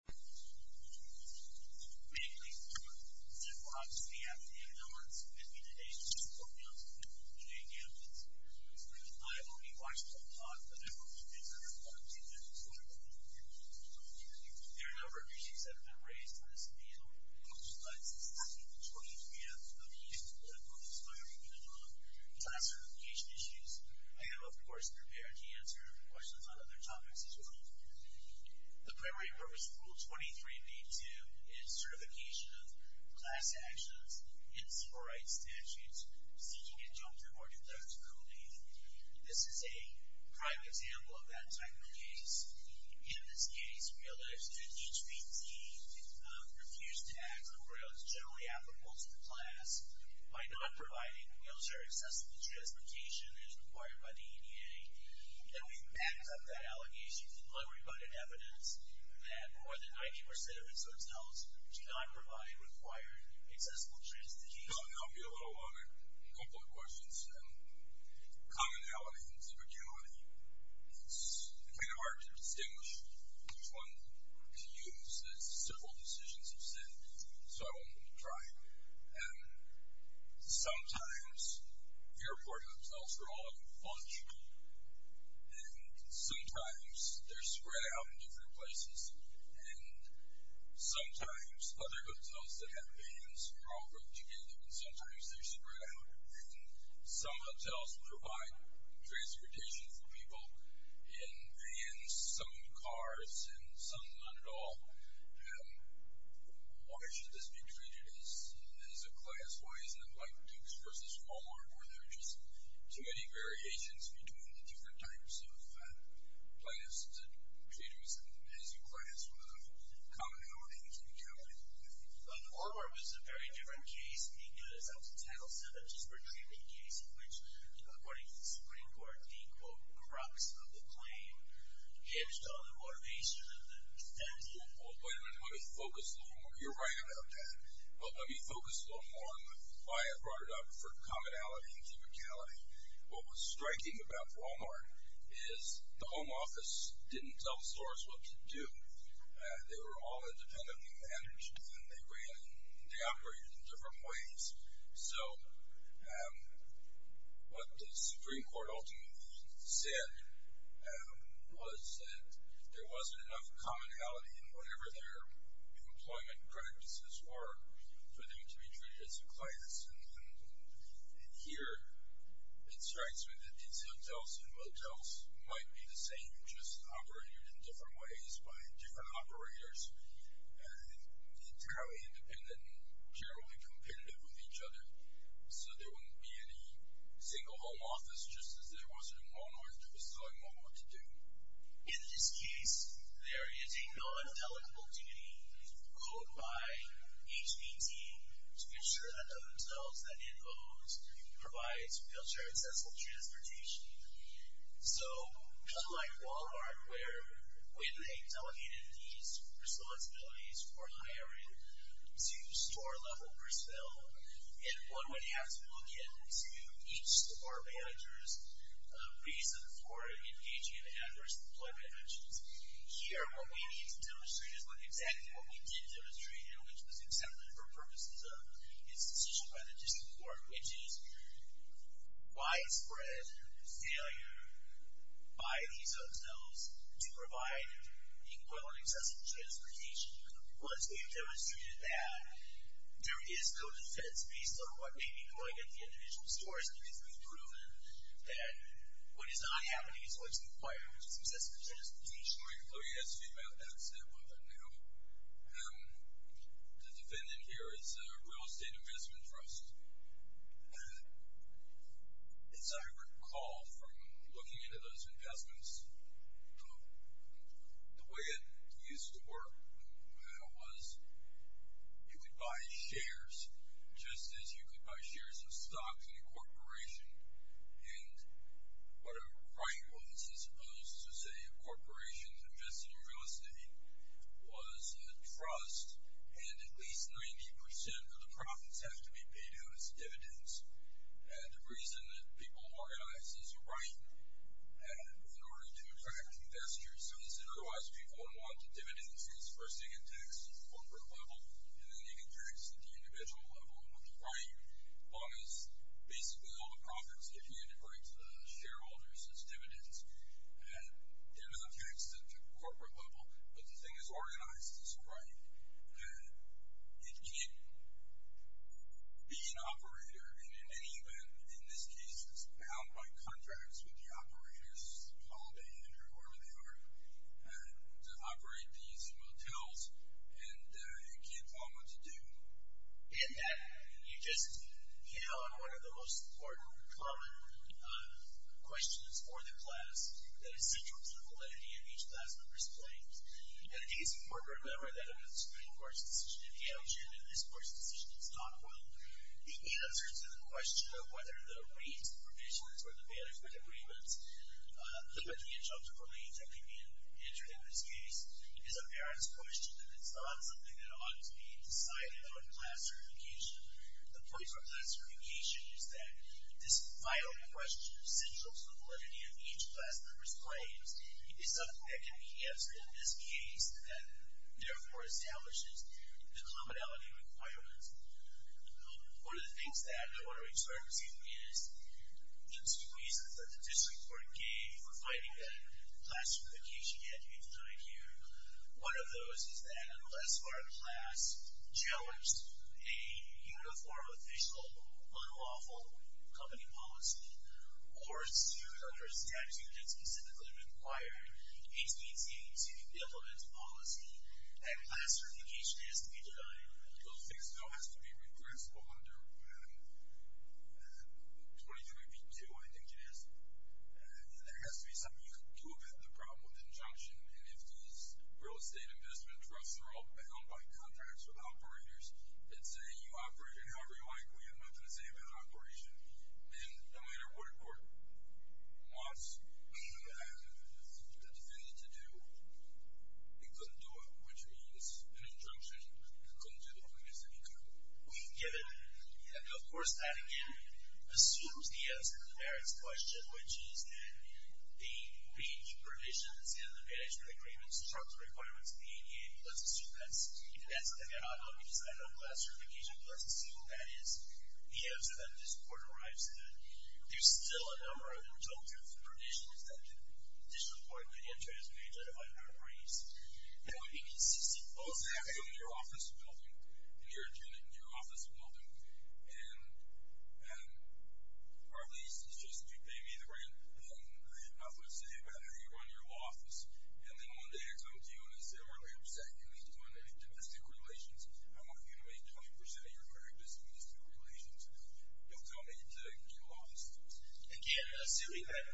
I am pleased to report that we are obviously after the announcement of the bid to date of the school council's bid for the J-campus. I have only watched the whole talk, but I hope to be a part of the event as well. There are a number of issues that have been raised on this panel, most of which I have since the beginning of the meeting, that have focused my attention on class certification issues. I am, of course, prepared to answer questions on other topics as well. The primary purpose of Rule 23b-2 is certification of class actions in civil rights statutes seeking injunctive or deductible leave. This is a prime example of that type of case. In this case, we allege that HPT refused to act on grounds generally applicable to the class by not providing military-accessible transportation as required by the ADA, and we back up that allegation by providing evidence that more than 90% of its hotels do not provide required accessible transportation. I'll be a little long on a couple of questions. Commonality and specificity, it's kind of hard to distinguish which one to use. It's simple decisions of safety, so I wanted to try. Sometimes airport hotels are all in a bunch, and sometimes they're spread out in different places, and sometimes other hotels that have vans are all brought together, and sometimes they're spread out. And some hotels provide transportation for people in vans, some cars, and some not at all. Why should this be treated as a class? Why isn't it like Dukes v. Walmart, where there are just too many variations between the different types of classes of computers, and is your class one of the commonalities you can count on? On Walmart, it was a very different case because the title said a disparate treatment case in which, according to the Supreme Court, the, quote, crux of the claim hinged on the motivation of the defendant. Well, wait a minute. Let me focus a little more. You're right about that. Let me focus a little more on why I brought it up for commonality and specificity. What was striking about Walmart is the home office didn't tell stores what to do. They were all independently managed, and they ran and they operated in different ways. So, what the Supreme Court ultimately said was that there wasn't enough commonality in whatever their employment practices were for them to be treated as a class. And here, it strikes me that these hotels and motels might be the same, just operated in different ways by different operators, and entirely independent and generally competitive with each other, so there wouldn't be any single home office, just as there was in Walmart, who was telling Walmart what to do. In this case, there is a non-delegable duty owed by HPT to ensure that the hotels that So, unlike Walmart, where when they delegated these responsibilities for hiring to store-level personnel, and one would have to look into each store manager's reason for engaging in adverse employment actions, here, what we need to demonstrate is exactly what we did demonstrate, and which was accepted for purposes of its decision by the District Court, which widespread failure by these hotels to provide equal and accessible transportation, once we've demonstrated that there is no defense based on what may be going at the individual's doors, because we've proven that what is not happening is what's required, which is accessible transportation. I'm just going to let you guys see what that said. The defendant here is a real estate investment trust. As I recall from looking into those investments, the way it used to work was you could buy shares, just as you could buy shares of stocks in a corporation, and whatever price was, as opposed to, say, a corporation investing in real estate, was a trust, and at least 90% of the profits have to be paid out as dividends, and the reason that people organize as a right in order to attract investors is that otherwise people would want the dividends as, first, they get taxed at the corporate level, and then they get taxed at the individual level with the right, as long as basically all the profits get paid according to the shareholders as dividends. They're not taxed at the corporate level, but the thing is organized as a right. It can't be an operator, and in any event, in this case, it's bound by contracts with the operators, Holiday Inn or whoever they are, to operate these motels, and it can't be what you want it to do. In that, you just hit on one of the most important, common questions for the class that is central to the validity of each class member's claims, and it is important to remember that in the Supreme Court's decision in Hale, Jim, in this Court's decision in Stockwell, the answer to the question of whether the rates, the provisions, or the management agreements, the money and jobs that were made that could be entered in this case, is a parent's question, and it's not something that ought to be decided on in class certification. The point of class certification is that this vital question of central to the validity of each class member's claims is something that can be answered in this case, and therefore establishes the commonality requirements. One of the things that I want to emphasize is the two reasons that the district court gave for finding that class certification had to be denied here. One of those is that unless our class judged a uniform, official, unlawful company policy or sued under a statute that specifically required HPT to implement a policy, that class certification has to be denied. Those things still have to be regressed under 23b-2, I think it is. There has to be something you can do about the problem with injunction, and if these real estate investment trusts are all bound by contracts with operators that say you operated however you like, we have nothing to say about operation, then no matter what the court wants the defendant to do, it couldn't do it, which means an injunction couldn't do the opposite, it couldn't. Given, and of course that again assumes the answer to the merits question, which is that the breach of provisions in the management agreement struck the requirements of the ADA, let's assume that's denied on the design of class certification, let's assume that is the answer that this court arrives to. There's still a number of injunctive provisions that the district court may enter as being justified by breaches. It would be consistent both ways. You're in your office building, in your unit in your office building, and our lease is just that you pay me the rent, and I have nothing to say about how you run your law office, and then one day I come to you and I say I'm really upset you're not doing any domestic relations, I want you to make 20% of your credit as domestic relations, you'll go into a new office building. Again, assuming that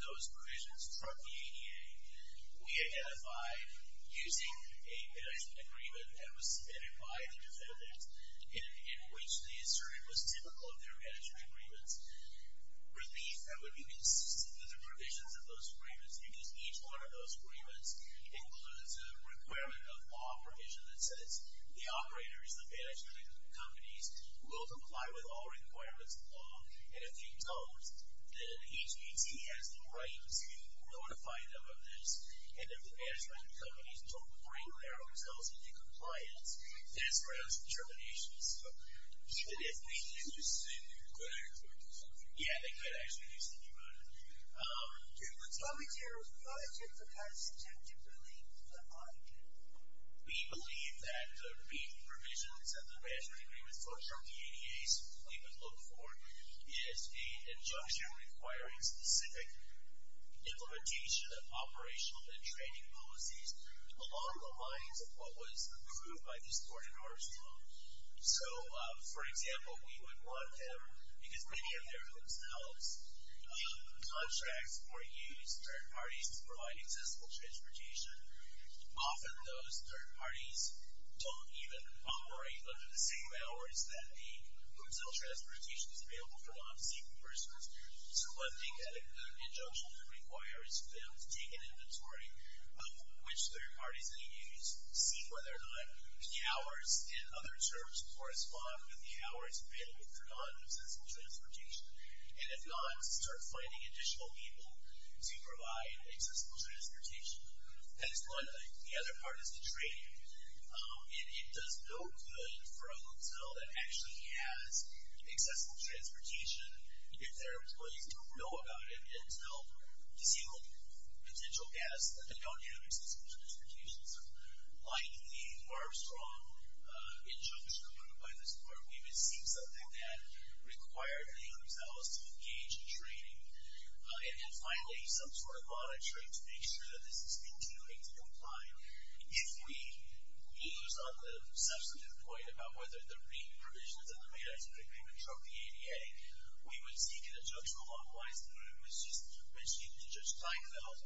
those provisions struck the ADA, we identify using a management agreement that was submitted by the defendants in which they asserted was typical of their management agreements, relief that would be consistent with the provisions of those agreements, because each one of those agreements includes a requirement of law provision that says the operators, the management companies, will comply with all requirements of law, and if they don't, then HPT has the right to notify them of this, and if the management companies don't bring their hotels into compliance, that's grounds for termination. So even if they use the agreement, they could actually do something about it. Yeah, they could actually use the agreement. Do you believe that I can? We believe that the brief provisions of the management agreements folks from the ADA we would look for is the injunction requiring specific implementation of operational and training policies along the lines of what was approved by this court in Arlington. So, for example, we would want them, because many of their homes house contracts or use third parties to provide accessible transportation. Often those third parties don't even operate under the same hours that the hotel transportation is available for non-seeking persons. So I think that a good injunction that requires them to take an inventory of which third parties they use, see whether or not the hours in other terms correspond with the hours available for non-accessible transportation, and if not, start finding additional people to provide accessible transportation. That is one thing. The other part is the training. It does no good for a hotel that actually has accessible transportation if their employees don't know about it and to help disable potential guests that don't have accessible transportation. So like the Armstrong injunction approved by this court, we receive something that required the hotels to engage in training. And then finally, some sort of monitoring to make sure that this has been doing to comply. If we lose on the substantive point about whether there be provisions in the management agreement from the ADA, we would seek an injunction along the lines of what was mentioned to Judge Kleinfeld,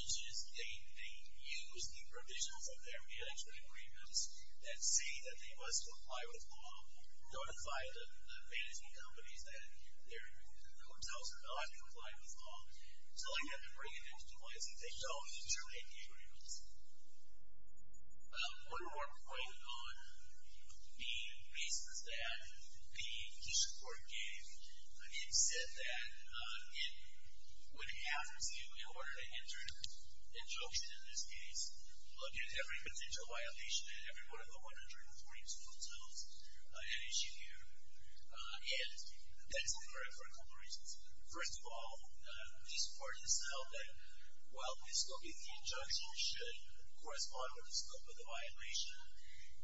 which is they use the provisions of their management agreements that say that they must comply with law and notify the fantasy companies that their hotels are not going to comply with law. So like that, they bring it into compliance and they don't terminate the agreements. One more point on the basis that the key support gave. It said that it would have to, in order to enter an injunction in this case, look at every potential violation in every one of the 142 hotels at issue here. And that's for a couple of reasons. First of all, this court has held that while the scope of the injunction should correspond with the scope of the violation,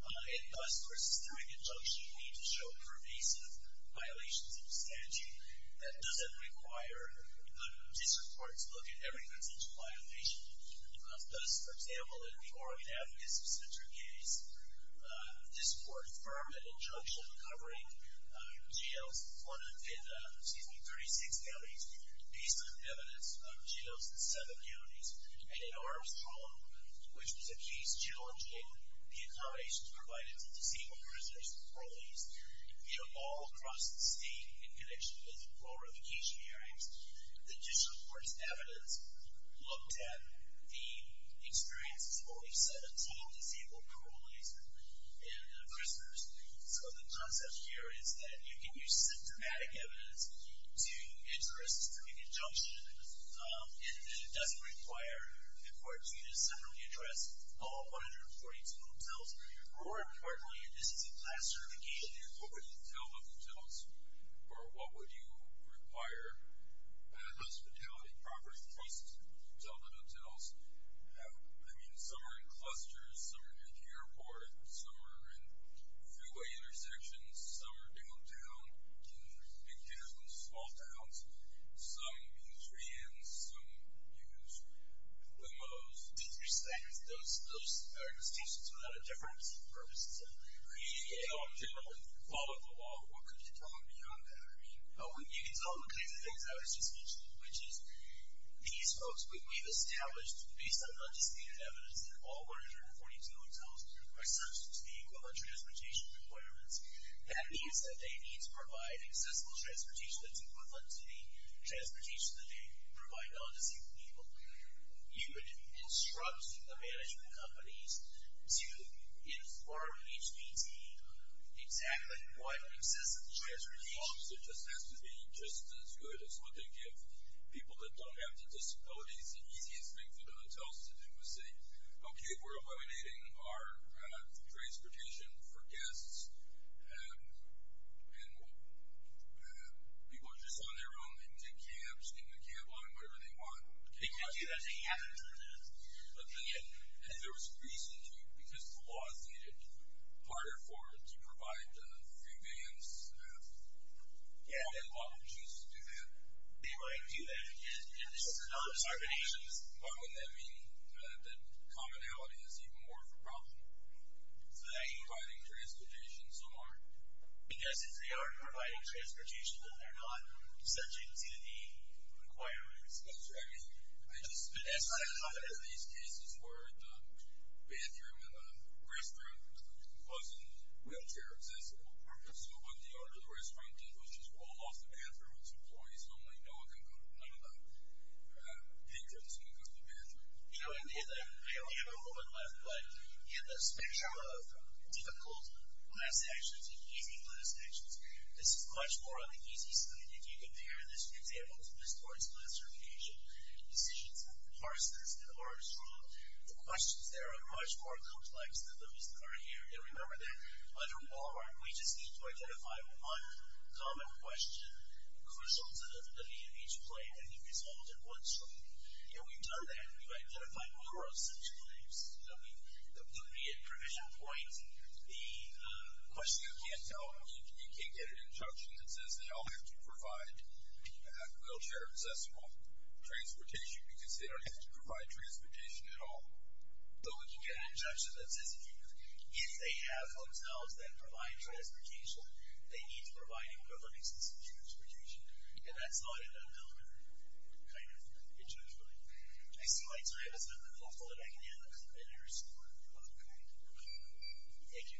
and thus, for a systemic injunction, we need to show pervasive violations of statute. That doesn't require the district court to look at every potential violation. Thus, for example, in the Oregon Advocacy Center case, this court affirmed an injunction covering jails in 36 counties based on evidence of jails in seven counties. And in Armstrong, which was a case challenging the accommodations provided to disabled prisoners and parolees all across the state in connection with parole revocation hearings, the district court's evidence looked at the experiences of only 17 disabled parolees and prisoners. So the concept here is that you can use symptomatic evidence to interest the injunction, and it doesn't require the court to separately address all 142 hotels, or importantly, a distance of class certification. What would you tell the hotels, or what would you require? Hospitality, property trusts, tell the hotels. I mean, some are in clusters, some are near the airport, some are in freeway intersections, some are downtown, in big towns and small towns. Some use VINs, some use MMOs. Those are distinctions without a difference in purpose. If you don't follow the law, what could you tell them beyond that? You can tell them the kinds of things I was just mentioning, which is these folks we've established based on undisputed evidence that all 142 hotels are subject to the equivalent transportation requirements. That means that they need to provide accessible transportation that's equivalent to the transportation that they provide non-disabled people. You would instruct the management companies to inform HPT exactly what exists in transportation. It just has to be just as good as what they give people that don't have the disabilities. The easiest thing for the hotels to do is say, okay, we're eliminating our transportation for guests, and people are just on their own. They can take cabs, they can do a cab line, whatever they want. They can do that. But then if there was a reason to, because the laws made it harder for them to provide free VINs, why would you choose to do that? They wouldn't do that. This is another discrimination. Why wouldn't that mean that commonality is even more of a problem? So that you're providing transportation somewhere? Because if they are providing transportation, then they're not subject to the requirements. That's right. I just, I've had these cases where the bathroom in a restaurant wasn't wheelchair accessible. So what the owner of the restaurant did was just roll off the bathroom. It's employees only. No one can go to none of the patrons can go to the bathroom. We have a moment left, but in the spectrum of difficult class actions, and easy class actions, this is much more on the easy side. If you compare this, for example, to Ms. Thornton's classification, decisions that are parsed, that are strong, the questions there are much more complex than those that are here. And remember that under Walmart, we just need to identify one common question, crucial to the leadership play, and you resolve it once. And we've done that. We've identified more of such claims. I mean, the immediate provision points, the question you can't tell, you can't get an injunction that says they all have to provide wheelchair accessible transportation because they don't have to provide transportation at all. But we can get an injunction that says, if they have hotels that provide transportation, they need to provide equivalent access to transportation. And that's not an unknown kind of injunction. I see my time is up. I'm hopeful that I can end on a better score. Okay. Thank you. Enjoy. Thank you. Good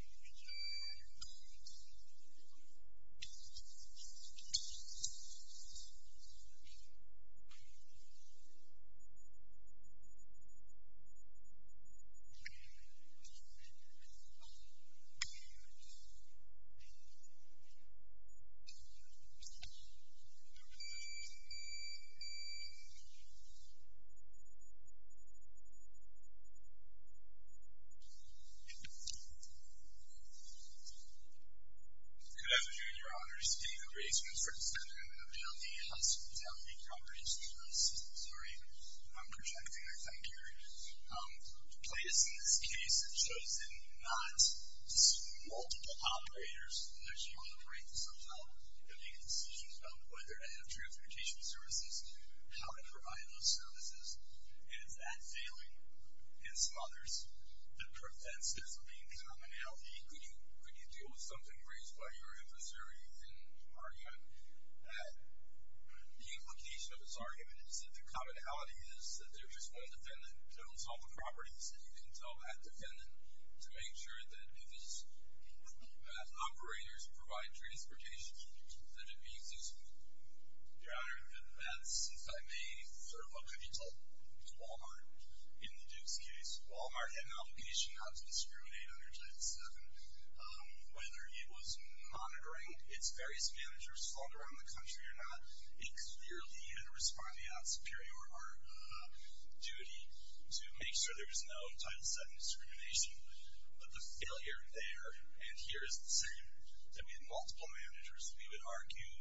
afternoon, Your Honors. David Reisman, Assistant Attorney General of the L.E. House, with the L.E. Corporation. Sorry, I'm projecting, I think, here. The plaintiffs in this case have chosen not just multiple operators, and they're choosing to break the subtitle and make decisions about whether to have transportation services, how to provide those services. And is that failing, and some others, that prevents there from being commonality? Could you deal with something raised by your advisory in arguing that the implication of this argument is that the commonality is that there's just one defendant that owns all the properties, and you can tell that defendant to make sure that if his operators provide transportation, that it be accessible? Your Honor, that's, if I may, sort of a capital to Wal-Mart in the Duke's case. Wal-Mart had an obligation not to discriminate under Title VII. Whether it was monitoring its various managers all around the country or not, it clearly had a responsibility on superior duty to make sure there was no Title VII discrimination. But the failure there and here is the same. That we had multiple managers that we would argue,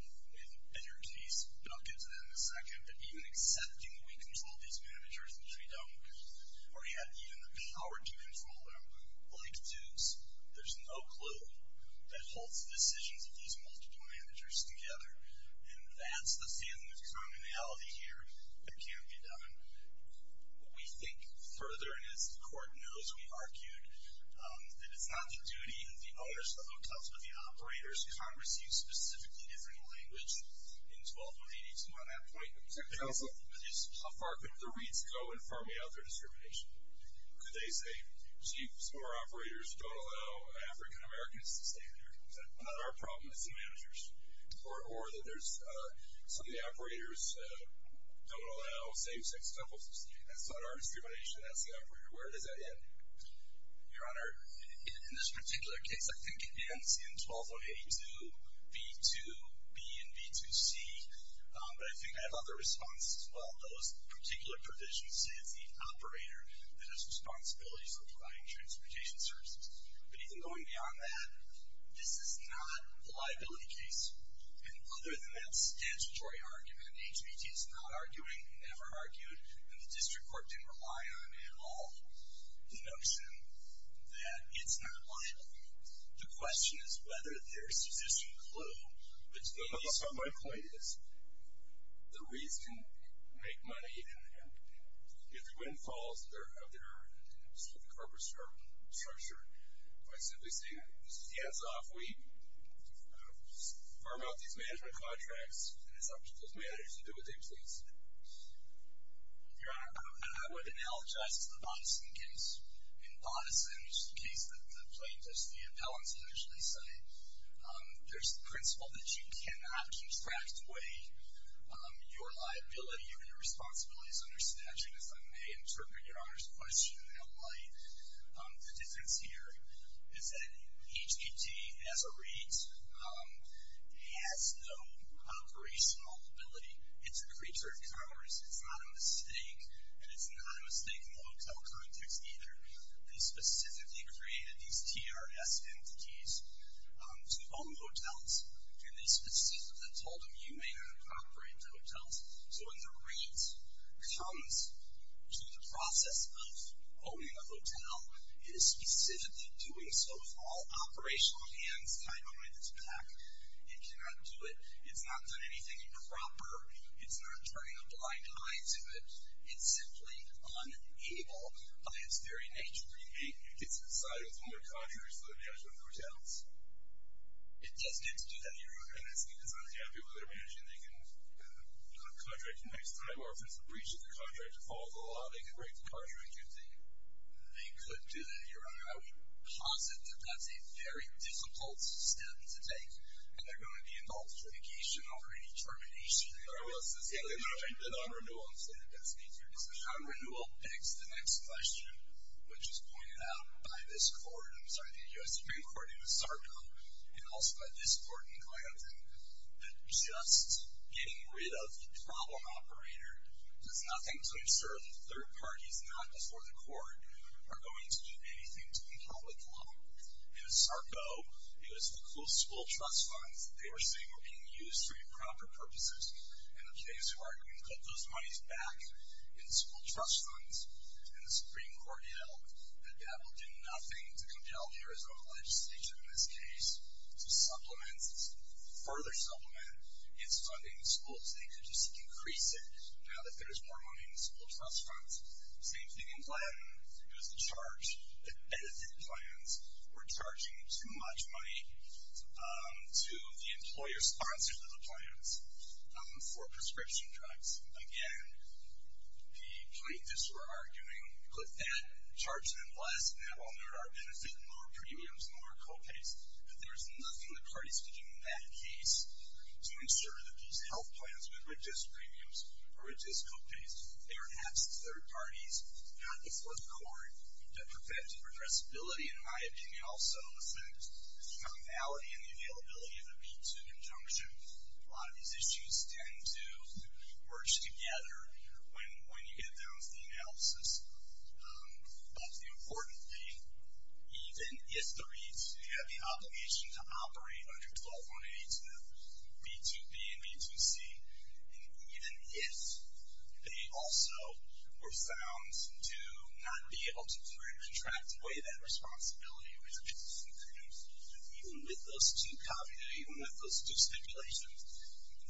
and your case will get to that in a second, that even accepting that we control these managers, which we don't, or had even the power to control them, like Dukes, there's no clue that holds the decisions of these multiple managers together. And that's the same commonality here that can't be done. We think further, and as the Court knows, we've argued, that it's not the duty of the owners to hook up to the operators. Congress used specifically different language in 1218 to want that point. Mr. Counsel? The reads go in far beyond their discrimination. Could they say, jeez, some of our operators don't allow African-Americans to stay there? Is that not our problem as the managers? Or that some of the operators don't allow same-sex couples? That's not our discrimination as the operator. Where does that end? Your Honor, in this particular case, I think it ends in 12082B2B and B2C. But I think I have other responses as well. Those particular provisions say it's the operator that has responsibilities for providing transportation services. But even going beyond that, this is not a liability case. And other than that statutory argument, HBT is not arguing, never argued, and the District Court didn't rely on at all the notion that it's not liable. The question is whether there's an existing clue. My point is the reads can make money, and if the wind falls of their corporate structure, by simply saying, hands off, we farm out these management contracts, and it's up to those managers to do what they please. Your Honor, I would analogize this to the Bonnison case. In Bonnison's case, the plaintiffs, the appellants initially say, there's the principle that you cannot extract away your liability or your responsibilities under statute. If I may interpret Your Honor's question in that light, the difference here is that HBT, as it reads, has no operational ability. It's a creature of commerce. It's not a mistake, and it's not a mistake in the hotel context either. They specifically created these TRS entities to own hotels, and they specifically told them, you may not operate the hotels. So when the read comes to the process of owning a hotel, it is specifically doing so with all operational hands tied behind its back. It cannot do it. It's not done anything improper. It's not turning a blind eye to it. It's simply unable by its very nature. It gets decided with one of the contractors for the management of the hotels. It doesn't get to do that either, Your Honor. I think it's not exactly what they're managing. They can contract the next time, or if it's a breach of the contract, it falls in the law, they can break the contract. They could do that, Your Honor. I would posit that that's a very difficult step to take, and there's going to be an alternate litigation over any termination. The non-renewal. The non-renewal begs the next question, which is pointed out by this court. I'm sorry, the U.S. Supreme Court in Sarko, and also by this court in Clayton, that just getting rid of the problem operator does nothing to assert that third parties, not before the court, are going to do anything to compel with the law. In Sarko, it was the school trust funds that they were saying were being used for improper purposes. In the case where we put those monies back in school trust funds, and the Supreme Court yelled that that will do nothing to compel the Arizona legislature in this case to supplement, further supplement, its funding to schools. They could just increase it now that there's more money in the school trust funds. Same thing in Clayton. It was the charge that benefit plans were charging too much money to the employer sponsored by the plans for prescription drugs. Again, the plaintiffs were arguing, put that, charge them less, and that will nurture our benefit and lower premiums and lower co-pays. But there's nothing the parties could do in that case to ensure that these health plans would reduce premiums or reduce co-pays. They're perhaps third parties, not before the court, that prevent progressibility and, in my opinion, also affect the functionality and the availability of the P-2 conjunction. A lot of these issues tend to merge together when you get down to the analysis. But the important thing, even if the REITs, they have the obligation to operate under 12182, B-2B and B-2C, and even if they also were found to not be able to contract the way that responsibility was increased, even with those two co-pays, even with those two stipulations,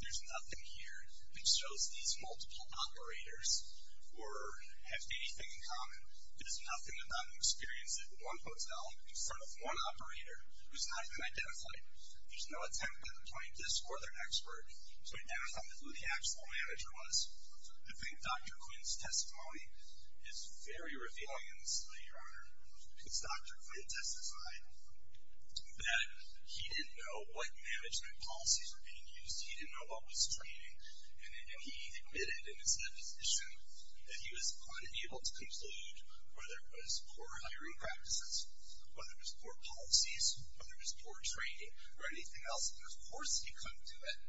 there's nothing here that shows these multiple operators were, have anything in common. There's nothing about an experience at one hotel in front of one operator who's not even identified. There's no attempt by the plaintiffs or their expert to identify who the actual manager was. I think Dr. Quinn's testimony is very revealing in this light, Your Honor. Because Dr. Quinn testified that he didn't know what management policies were being used. He didn't know what was training. And he admitted in his deposition that he was unable to conclude whether it was poor hiring practices, whether it was poor policies, whether it was poor training, or anything else. And, of course, he couldn't do it.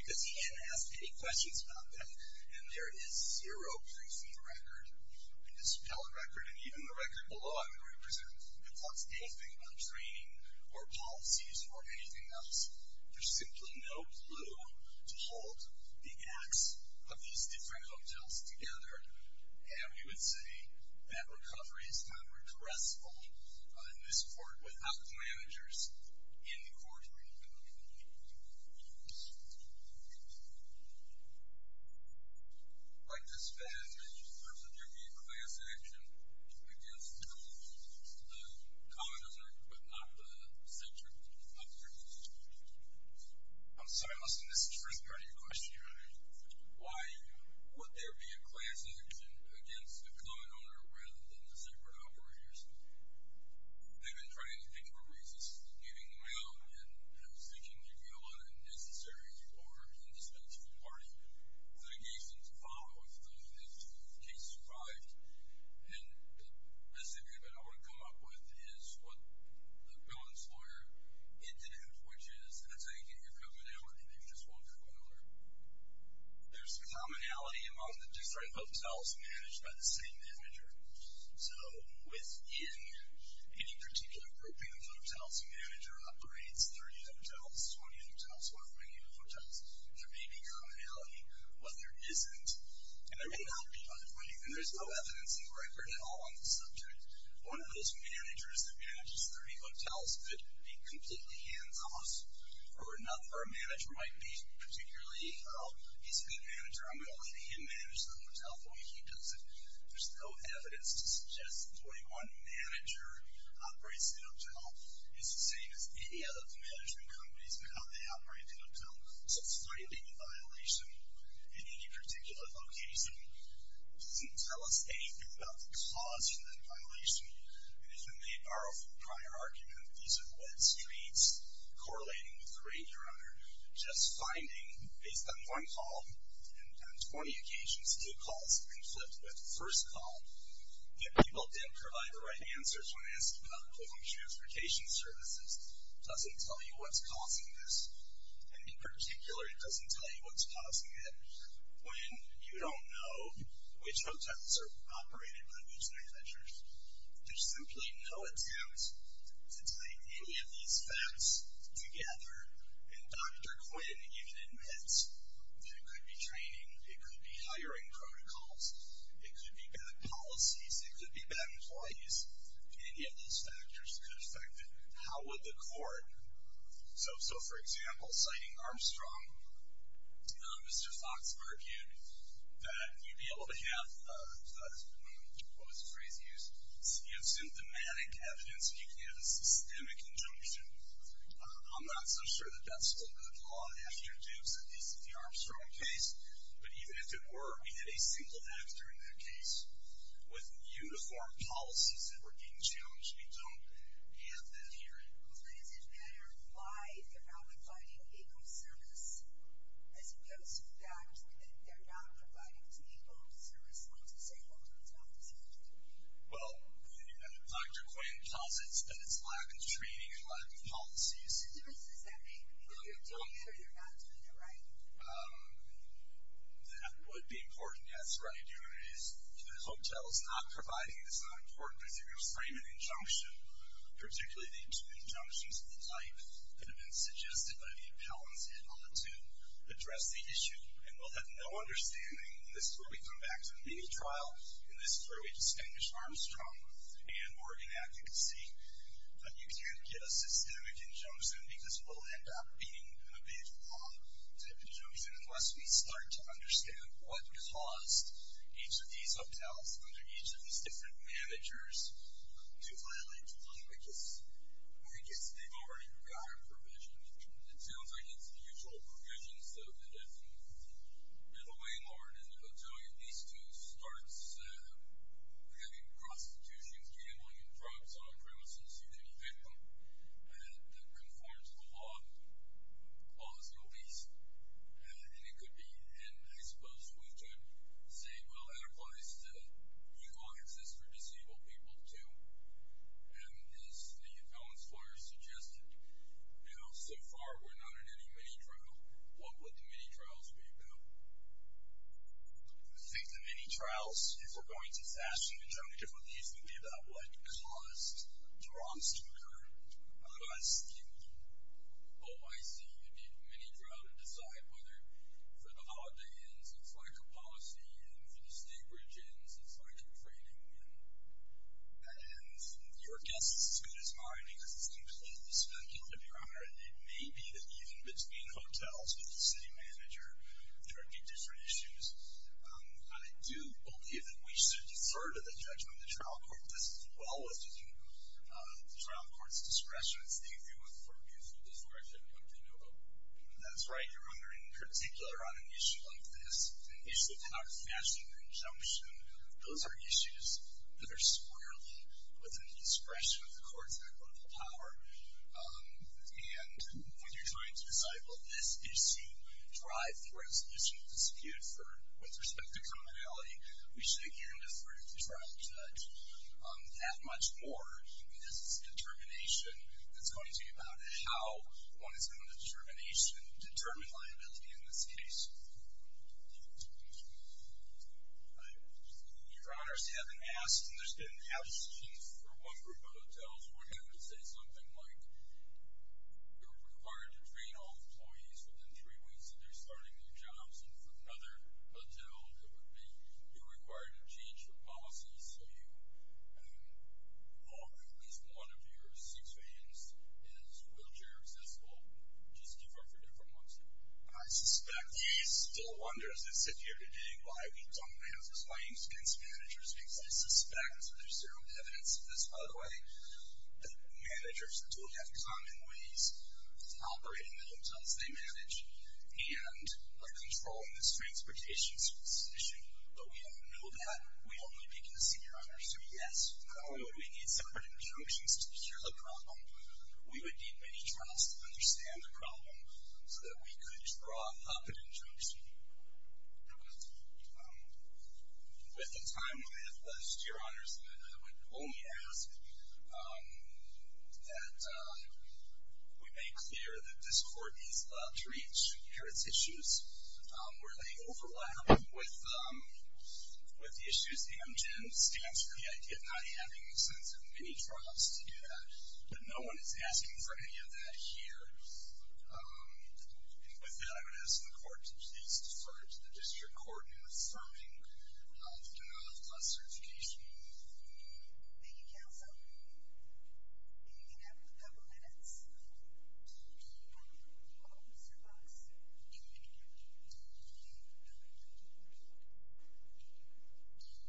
Because he hadn't asked any questions about that. And there is zero proof in the record, in this appellate record, and even the record below I'm going to present, that talks anything about training or policies or anything else. There's simply no clue to hold the acts of these different hotels together. And we would say that recovery is not regressible in this court without the managers in the courtroom. I'd like to expand in terms of your being class action against the common owner, but not the separate operators. I'm sorry, listen, this is the first part of your question, Your Honor. Why would there be a class action against the common owner rather than the separate operators? They've been trying to think of a reason for leaving them out, and I was thinking maybe a lot of unnecessary or indispensable party litigation to follow if the case survived. And the recipient that I want to come up with is what the building's lawyer ended up with, which is, that's how you get your commonality. There's just one common owner. There's commonality among the different hotels managed by the same manager. So within any particular grouping of hotels, the manager operates 30 hotels, 20 hotels, 100 hotels. There may be commonality, but there isn't. And there's no evidence in the record at all on the subject. One of those managers that manages 30 hotels could be completely hands-off, or a manager might be particularly, oh, he's a good manager. I'm going to let him manage the hotel the way he does it. There's no evidence to suggest that the way one manager operates the hotel is the same as any of the management companies in how they operate the hotel. So finding a violation in any particular location doesn't tell us anything about the cause for that violation. And if you may borrow from the prior argument, these are wet streets correlating with the rate you're under. Just finding, based on one call, and on 20 occasions, two calls conflict with the first call, yet people didn't provide the right answers when asked about equivalent transportation services doesn't tell you what's causing this. And in particular, it doesn't tell you what's causing it when you don't know which hotels are operated by which managers. There's simply no attempt to tie any of these facts together. And Dr. Quinn even admits that it could be training, it could be hiring protocols, it could be bad policies, it could be bad employees. Any of these factors could affect it. How would the court? So, for example, citing Armstrong, Mr. Fox argued that you'd be able to have what was the phrase used? You have symptomatic evidence and you can have a systemic injunction. I'm not so sure that that's still good law after Dukes, at least in the Armstrong case. But even if it were, we had a single actor in that case. With uniform policies that were being challenged, we don't have that here. But is it a matter of why they're not providing equal service as opposed to the fact that they're not providing equal service on disabled hotels? Well, Dr. Quinn posits that it's lack of training and lack of policies. What difference does that make? I mean, if you're doing it or you're not doing it, right? That would be important, yes. What you're doing is the hotel is not providing, it's not important that you frame an injunction, particularly the injunctions of the type that have been suggested by the appellants and ought to address the issue. And we'll have no understanding, and this is where we come back to the mini trial, and this is where we distinguish Armstrong and Morgan advocacy. But you can't get a systemic injunction because it will end up being a big law type injunction unless we start to understand what caused each of these different managers to violate the law. I guess they've already got a provision. It sounds like it's the usual provisions of the death penalty. You know, the landlord and the hotelier, these two starts having prostitutions, gambling, and drugs on the premises of any victim that conforms to the law. Law is no beast, and it could be. And I suppose we could say, well, that applies to legal access for disabled people, too. And as the appellant's lawyer suggested, you know, so far we're not in any mini trial. What would the mini trials be about? I think the mini trials, if we're going to fashion injunctive relief, would be about what caused the wrongs to occur, caused the OIC, you know, you'd need a mini trial to decide whether, for the holiday ends, it's like a policy, and for the state bridge ends, it's like a training. And your guess is as good as mine because it's completely speculative, Your Honor. It may be that even between hotels with the city manager there would be different issues. I do believe that we should defer to the judgment of the trial court. This is as well within the trial court's discretion. That's right. Your Honor, in particular on an issue like this, an issue of how to fashion an injunction, those are issues that are squarely within the discretion of the courts and the local power. And when you're trying to decide, well, this issue drives the resolution of dispute with respect to commonality, we should, again, defer to the trial judge. That much more is determination. It's going to be about how one is going to determination, determine liability in this case. Your Honor, as you haven't asked, and there's been an absence for one group of hotels, we're going to say something like you're required to train all employees within three weeks of their starting their jobs. And for another hotel, it would be you're required to change your policies so at least one of your six rooms is wheelchair accessible. Just defer for different ones. I suspect he still wonders as I sit here today why we don't have complaints against managers because I suspect, there's zero evidence of this, by the way, that managers do have common ways of operating the hotels they manage and are controlling this transportation situation. But we don't know that. We only begin to see, Your Honor, so yes, not only would we need separate injunctions to secure the problem, we would need many trials to understand the problem so that we could draw up an injunction. With the time we have left, Your Honor, I would only ask that we make clear that this court needs to reach to parents' issues where they overlap with the issues AMGEN stands for, the idea of not having a sense of many trials to do that. But no one is asking for any of that here. And with that, I would ask the court to please defer to the district court in affirming of the certification. Thank you, counsel. And you can have a couple minutes. Mr. Fox? Thank you.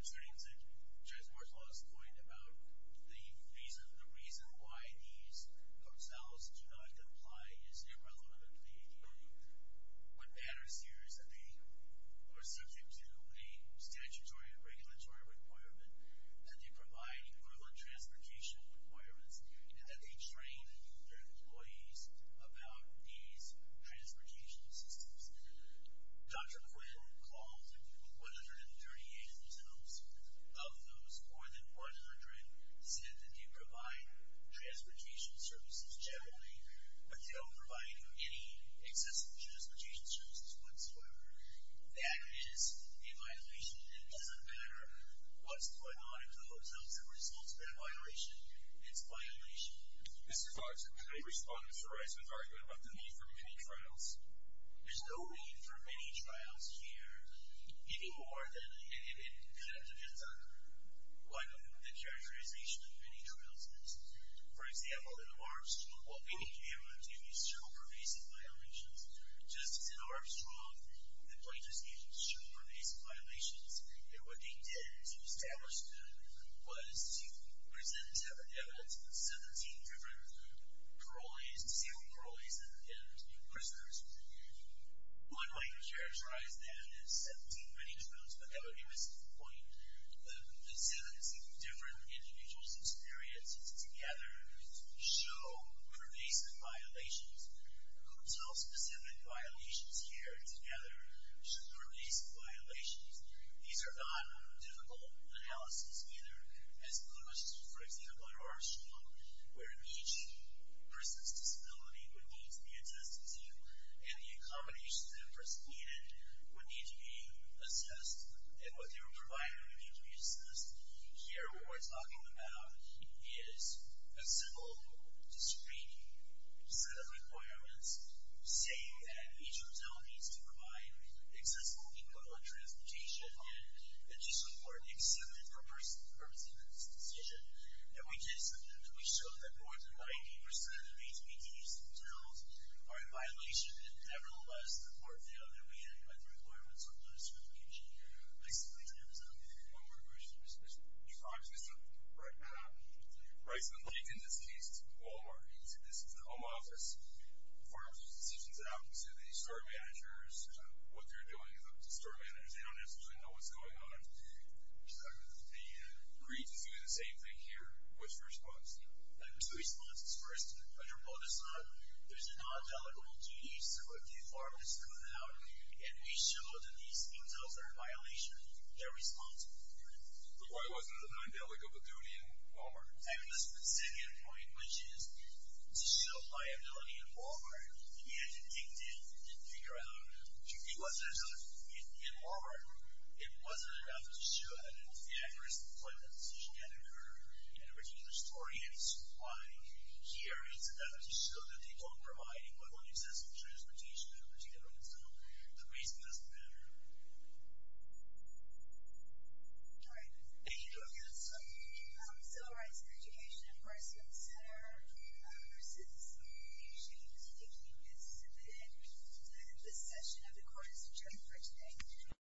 Mr. Nienzig, Judge Martel has a point about the reason why these hotels do not comply is irrelevant to the ADA. What matters here is that they are subject to a statutory or regulatory requirement that they provide equivalent transportation requirements and that they train their employees about these transportation systems. Dr. Quinn Clausen, 138 hotels, of those, more than 100, said that they provide transportation services generally, but they don't provide any accessible transportation services whatsoever. That is a violation. It doesn't matter what's going on in the hotels that results in that violation. It's a violation. Mr. Fox, I respond to Mr. Reisman's argument about the need for many trials. There's no need for many trials here, any more than it kind of depends on what the characterization of many trials is. For example, in Armstrong, what we need to be able to do is circle pervasive violations. Just as in Armstrong, the plaintiffs needed to circle pervasive violations, what they did to establish them was to present evidence of 17 different parolees, disabled parolees, and prisoners. One way to characterize that is 17 many trials, but that would be a missed point. The 17 different individuals experienced together show pervasive violations. Hotel-specific violations here together show pervasive violations. These are not difficult analyses either, as opposed to, for example, in Armstrong, where each person's disability would need to be assessed as well, and the accommodations that a person needed would need to be assessed, and what they were provided would need to be assessed. Here, what we're talking about is a simple, discrete set of requirements saying that each hotel needs to provide accessible equivalent transportation, and it's just as important, accepted for the purpose of this decision. And we did something that we showed that more than 90% of HBDs in hotels are in violation, and nevertheless, it's just as important the other way. And the requirements on those sort of conditions are basically transparent. One more question. Mr. Prime Minister. Right, Matt. Right. In this case, it's Walmart. This is the home office. The pharmacy decisions it out to the store managers. What they're doing is up to the store managers. They don't necessarily know what's going on. The grievance is doing the same thing here. What's the response? There's two responses. First, under POTUS law, there's a non-delegable duty so if the pharmacist comes out and we show that these hotels are in violation, they're responsible for it. But why wasn't it a non-delegable duty in Walmart? I mean, the second point, which is to show liability in Walmart, we had to dig deep and figure out. It wasn't enough in Walmart. It wasn't enough to show that it was the accurate point that the decision had occurred. And original historians, why? Here, it's enough to show that they don't provide what one expects from transportation, particularly on its own. The reason doesn't matter. All right. Thank you. That's all. Civil Rights Education Enforcement Center versus the issue of speaking is submitted. The session, of course, is adjourned for today.